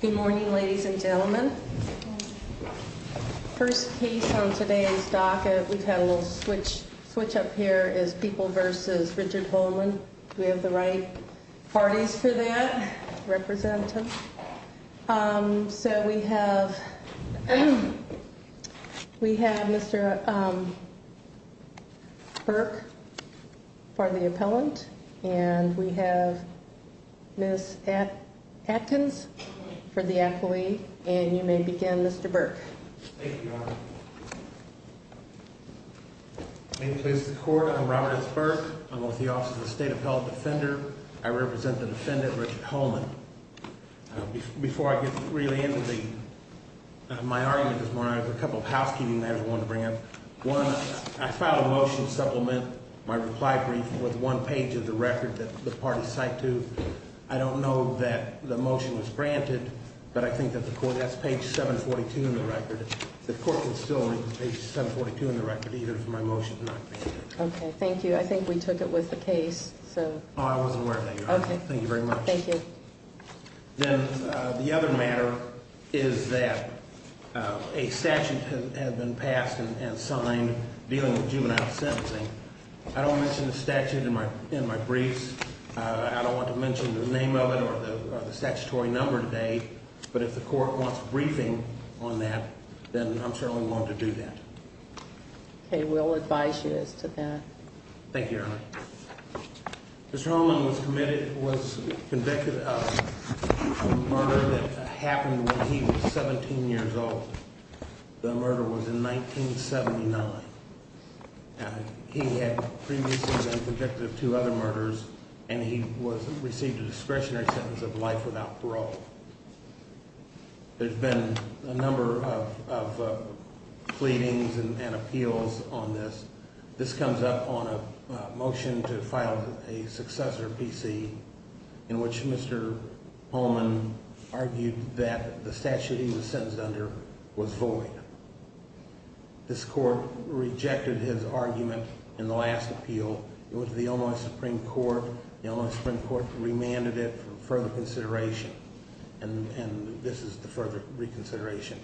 Good morning, ladies and gentlemen. First case on today's docket. We've had a little switch switch up here is people versus Richard Holman. We have the right parties for that representative. So we have we have Mr. Burke for the appellant. And we have this at Atkins for the employee. And you may begin, Mr. Burke. Thank you, Your Honor. I'm Robert S. Burke. I'm with the Office of the State Appellate Defender. I represent the defendant, Richard Holman. Before I get really into the my argument this morning, I have a couple of housekeeping matters I wanted to bring up. One, I filed a motion to supplement my reply brief with one page of the record that the party assigned to. I don't know that the motion was granted, but I think that's page 742 in the record. The court would still need page 742 in the record either for my motion. Thank you. I think we took it with the case. I wasn't aware of that, Your Honor. Thank you very much. The other matter is that a statute has been passed and I don't want to mention the name of it or the statutory number today, but if the court wants a briefing on that, then I'm certainly willing to do that. Okay, we'll advise you as to that. Thank you, Your Honor. Mr. Holman was convicted of a murder that happened when he was 17 years old. The murder was in 1979. He had previously been convicted of two other murders and he was received a discretionary sentence of life without parole. There's been a number of pleadings and appeals on this. This comes up on a motion to file a successor PC in which Mr. Holman argued that the statute he was sentenced under was void. This court rejected his argument in the last appeal. It was the Illinois Supreme Court. The Illinois Supreme Court remanded it for further consideration and this is the further reconsideration.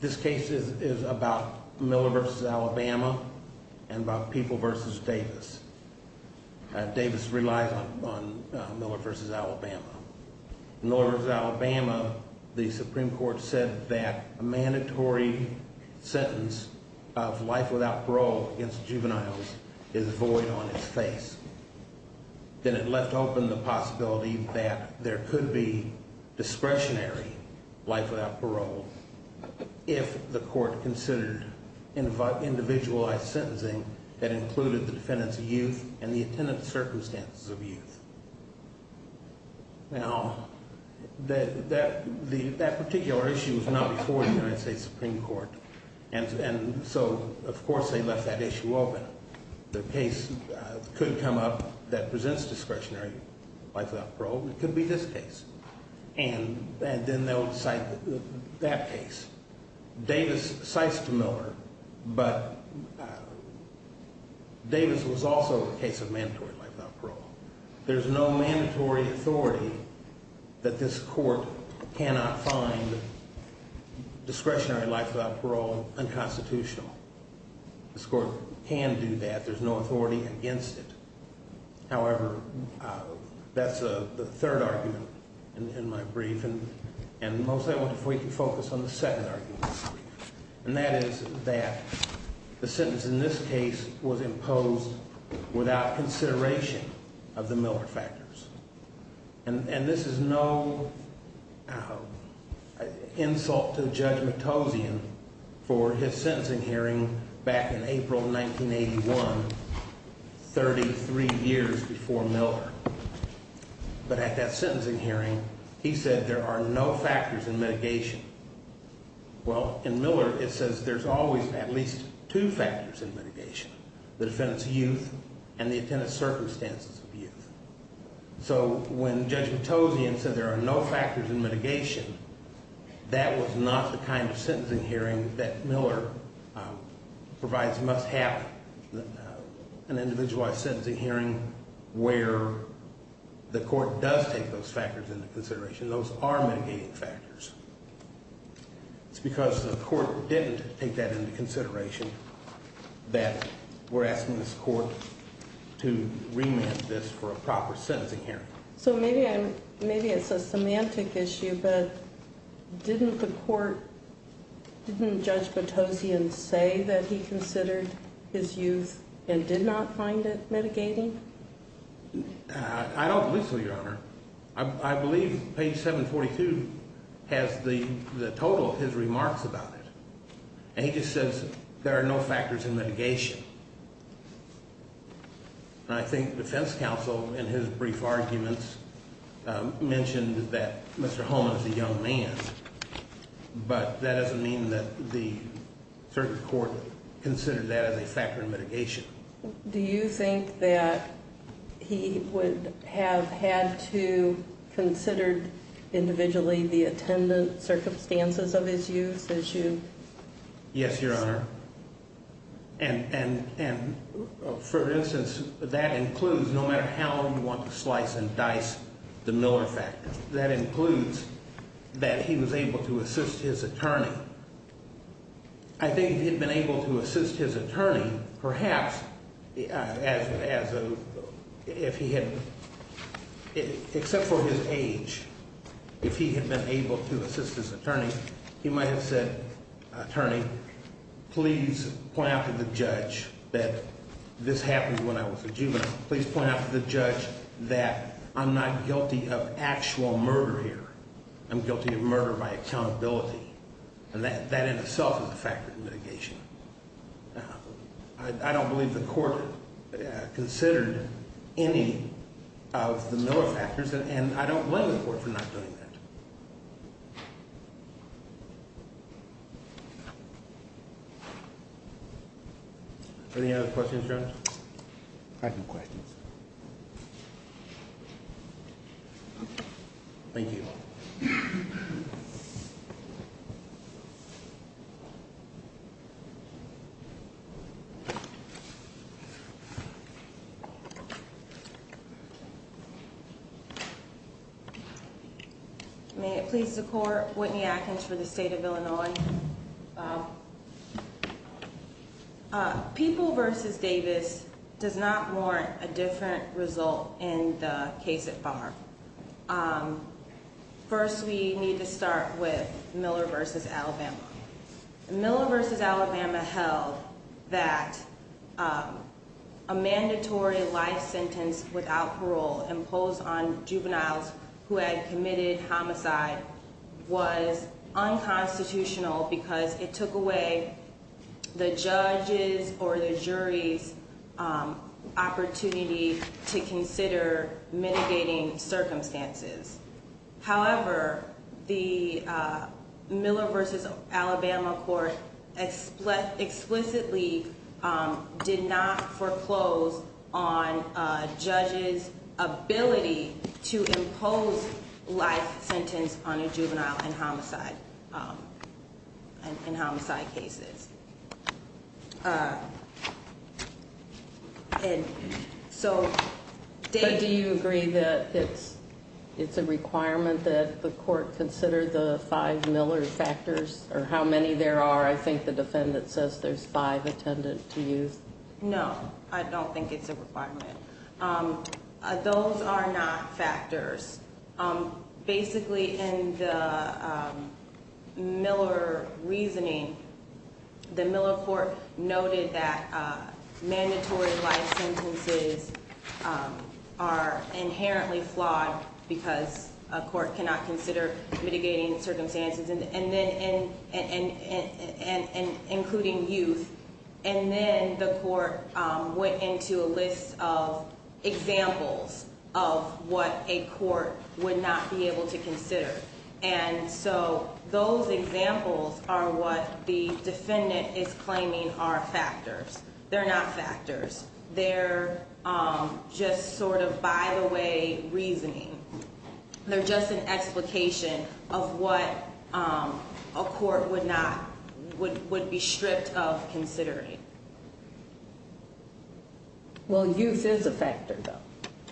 This case is about Miller v. Alabama and about People v. Davis. Davis relies on Miller v. Alabama. In Miller v. Alabama, the Supreme Court said that a mandatory sentence of life without parole against juveniles is void on its face. Then it left open the possibility that there could be discretionary life without parole if the court considered individualized sentencing that included the defendants youth and the attendant circumstances of youth. Now that particular issue was not before the United States Supreme Court and so of course they left that issue open. The case could come up that presents discretionary life without parole. It could be this case. And then they'll decide that case. Davis cites to Miller but Davis was also a case of mandatory life without parole. There's no mandatory authority that this court cannot find discretionary life without parole unconstitutional. This court can do that. There's no authority against it. However, that's the third argument in my brief and mostly I want to focus on the second argument. And that is that the sentence in this case was imposed without consideration of the Miller factors. And this is no insult to Judge McTozian for his sentencing hearing back in April 1981 33 years before Miller. But at that sentencing hearing he said there are no factors in mitigation. Well, in Miller it says there's always at least two factors in mitigation. The defendants youth and the attendant circumstances of youth. So when Judge McTozian said there are no factors in mitigation, that was not the kind of sentencing hearing that Miller provides must have an individualized sentencing hearing where the court does take those factors into consideration. Those are mitigating factors. It's because the court didn't take that into consideration that we're asking this court to remand this for a proper court. Didn't Judge McTozian say that he considered his youth and did not find it mitigating? I don't believe so, Your Honor. I believe page 742 has the total of his remarks about it. And he just says there are no factors in mitigation. And I think defense counsel in his But that doesn't mean that the circuit court considered that as a factor in mitigation. Do you think that he would have had to consider individually the attendant circumstances of his youth issue? Yes, Your Honor. And for instance, that includes no matter how long you want to slice and dice the Miller factor. That includes that he was able to assist his attorney. I think if he had been able to assist his attorney, perhaps if he had, except for his age, if he had been able to assist his attorney, he might have said, attorney, please point out to the judge that this happened when I was a juvenile. Please point out to the judge that I'm not guilty of actual murder here. I'm guilty of murder by accountability. And that in itself is a factor in mitigation. I don't believe the court considered any of the Miller factors. And I don't blame the court for not doing that. Any other questions, Your Honor? I have no questions. Thank you. May it please the court. Whitney Atkins for the state of Illinois. People v. Davis does not warrant a different result in the case at farm. First we need to start with Miller v. Alabama. Miller v. Alabama held that a mandatory life sentence without parole imposed on juveniles who had committed homicide was unconstitutional because it took away the judge's or the jury's opportunity to consider mitigating circumstances. However, the Miller v. Alabama court explicitly did not foreclose on judges ability to impose life sentence on a juvenile in homicide cases. Do you agree that it's a requirement that the court consider the five Miller factors or how many there are? I think the defendant says there's five attendant to use. No, I don't think it's a requirement. Those are not factors. Basically in the Miller reasoning, the Miller court noted that mandatory life sentences are inherently flawed because a court cannot consider mitigating circumstances, including youth. Then the court went into a list of examples of what a court would not be able to consider. Those examples are what the defendant is claiming are factors. They're not factors. They're just sort of by the way reasoning. They're just an explication of what a court would be stripped of considering. Well, youth is a factor though.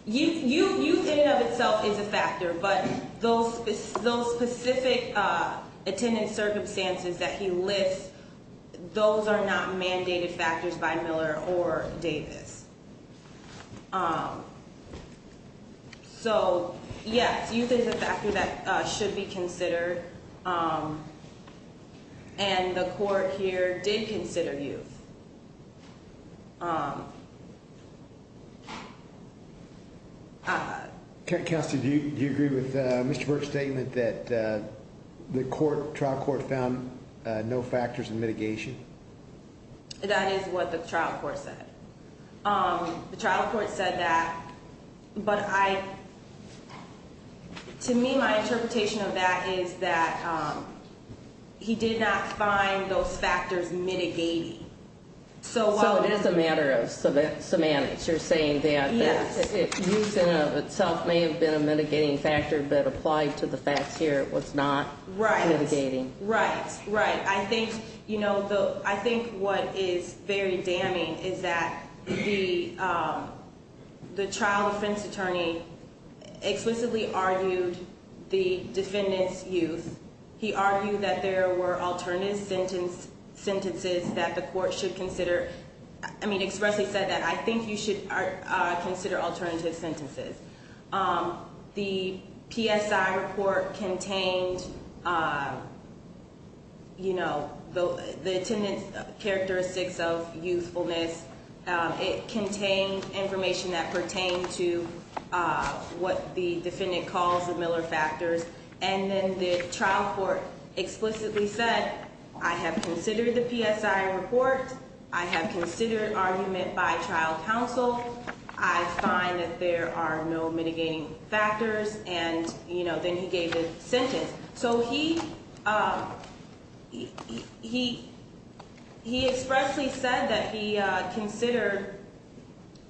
Youth in and of itself is a factor, but those specific attendant circumstances that he lists, those are not mandated factors by Miller or Davis. So yes, youth is a factor that should be considered. And the court here did consider youth. Counselor, do you agree with Mr. Burke's statement that the trial court found no factors in mitigation? That is what the trial court said. The trial court said that, but to me my interpretation of that is that he did not find those factors mitigating. So it is a matter of semantics. You're saying that youth in and of itself may have been a mitigating factor, but applied to the facts here it was not mitigating. I think what is very damning is that the he argued that there were alternative sentences that the court should consider. I mean expressly said that I think you should consider alternative sentences. The PSI report contained the attendant characteristics of youthfulness. It contained information that pertained to what the defendant calls the Miller factors. And then the trial court explicitly said I have considered the PSI report. I have considered argument by trial counsel. I find that there are no mitigating factors. And then he gave the sentence. So he expressly said that he considered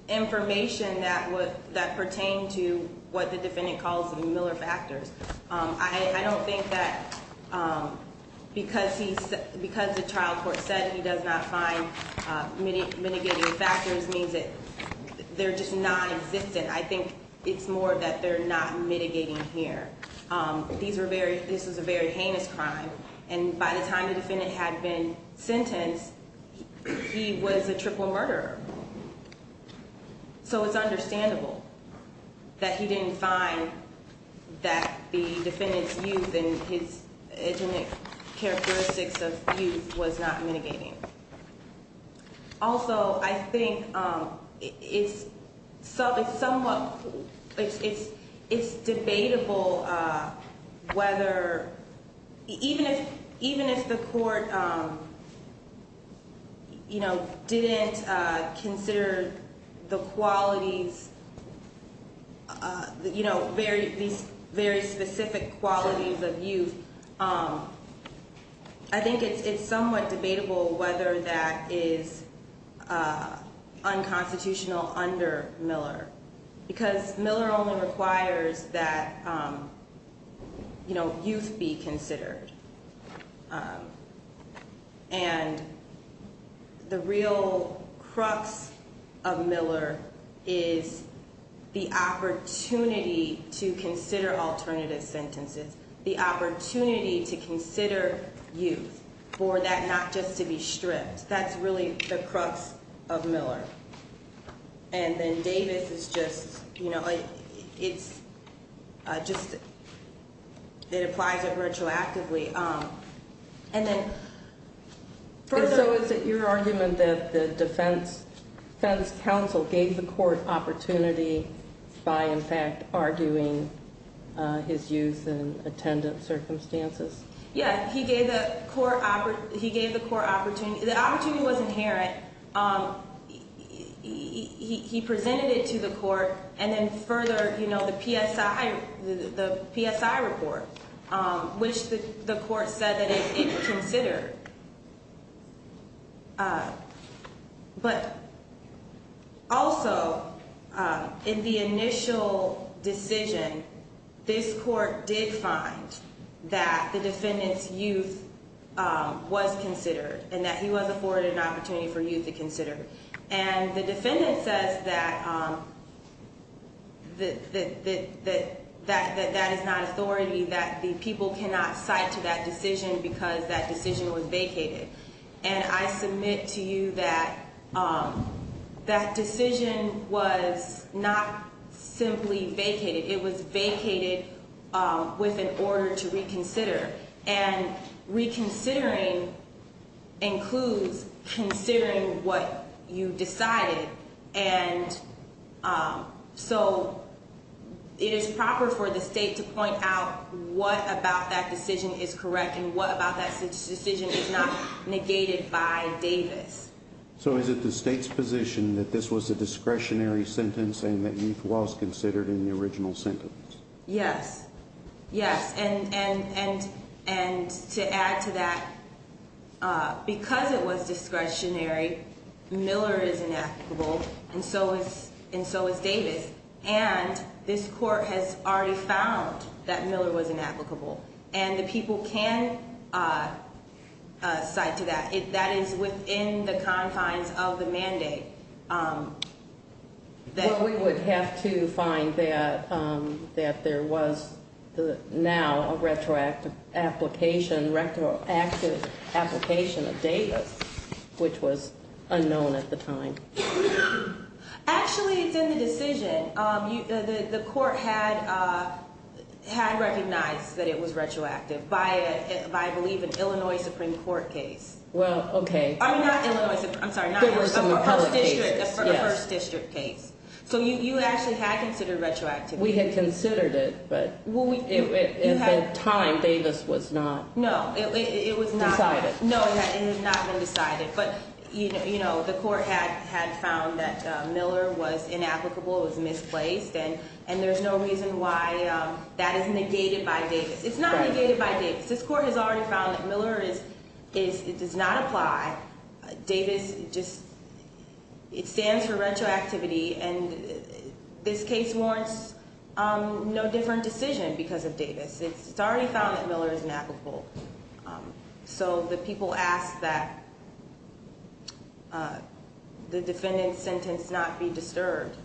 information that pertained to what the defendant calls the Miller factors. I don't think that because the trial court said he does not find mitigating factors means that they're just non-existent. I think it's more that they're not mitigating here. This was a very heinous crime. And by the time the defendant had been sentenced he was a triple murderer. So it's understandable that he didn't find that the defendant's youth and his characteristics of youth was not mitigating. Also I think it's somewhat debatable whether even if the court didn't consider the qualities very specific qualities of youth I think it's somewhat debatable whether that is unconstitutional under Miller. Because Miller only requires that youth be considered. And the real crux of Miller is the opportunity to consider alternative sentences. The opportunity to consider youth for that not just to be stripped. That's really the crux of Miller. And then Davis is just it applies it retroactively. And so is it your argument that the defense counsel gave the court opportunity by in fact arguing his youth in attendant circumstances? Yeah, he gave the court opportunity. The opportunity was inherent. He presented it to the court and then further the PSI report, which the court said that it is considered. But also in the initial decision this court did find that the defendant's youth was considered. And that he was afforded an opportunity for youth to consider. And the defendant says that that is not authority. That the people cannot cite to that decision because that decision was vacated. And I submit to you that that decision was not simply vacated. It was vacated with an order to reconsider and reconsidering includes considering what you decided and so it is proper for the state to point out what about that decision is correct and what about that decision is not negated by Davis. So is it the state's position that this was a discretionary sentence and that youth was considered in the original sentence? Yes, yes. And to add to that because it was discretionary, Miller is inapplicable and so is Davis. And this court has already found that Miller was inapplicable. And the people can cite to that. That is within the confines of the mandate. Well we would have to find that there was now a retroactive application of Davis which was unknown at the time. Actually it's in the decision. The court had recognized that it was retroactive by I believe an Illinois Supreme Court case. A first district case. So you actually had considered retroactive. We had considered it but at the time Davis was not decided. No, it had not been decided. But the court had found that Miller was inapplicable. It was misplaced and there's no reason why that is negated by Davis. It's not negated by Davis. This court has already found that Miller does not apply. Davis just stands for retroactivity and this case warrants no different decision because of Davis. It's already found that Miller is inapplicable. So the people ask that the defendant's sentence not be disturbed.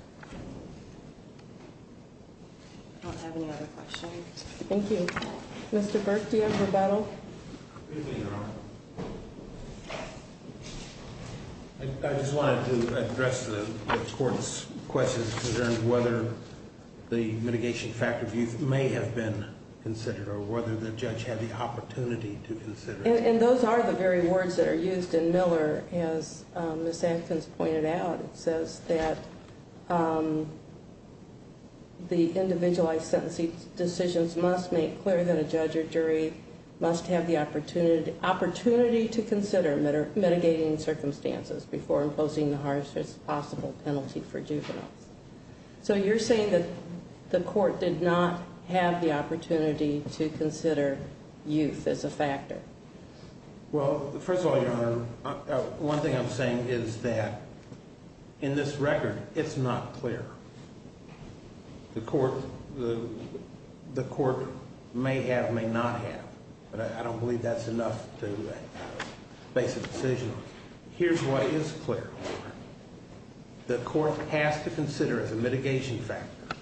I don't have any other questions. Thank you. Mr. Burke do you have a rebuttal? Good evening Your Honor. I just wanted to address the court's questions in terms of whether the mitigation factor of youth may have been considered or whether the judge had the opportunity to consider it. And those are the very words that are used in Miller as Ms. Atkins pointed out. It says that the individualized sentencing decisions must make clear that a judge or jury must have the opportunity to consider mitigating circumstances before imposing the hardest possible penalty for juveniles. So you're saying that the court did not have the opportunity to consider youth as a factor? Well first of all Your Honor, one thing I'm saying is that in this record it's not clear. The court may have, may not have. But I don't believe that's enough to base a decision on. Here's what is clear. The court has to consider as a mitigation factor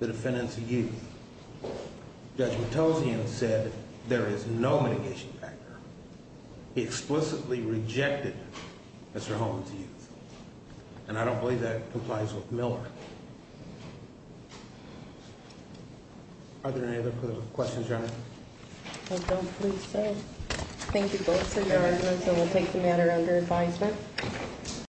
the defendants youth. Judge Matossian said there is no mitigation factor. He explicitly rejected Mr. Holland's youth. And I don't believe that complies with Miller. Are there any other questions Your Honor? I don't believe so. Thank you both for your arguments and we'll take the matter under advisement.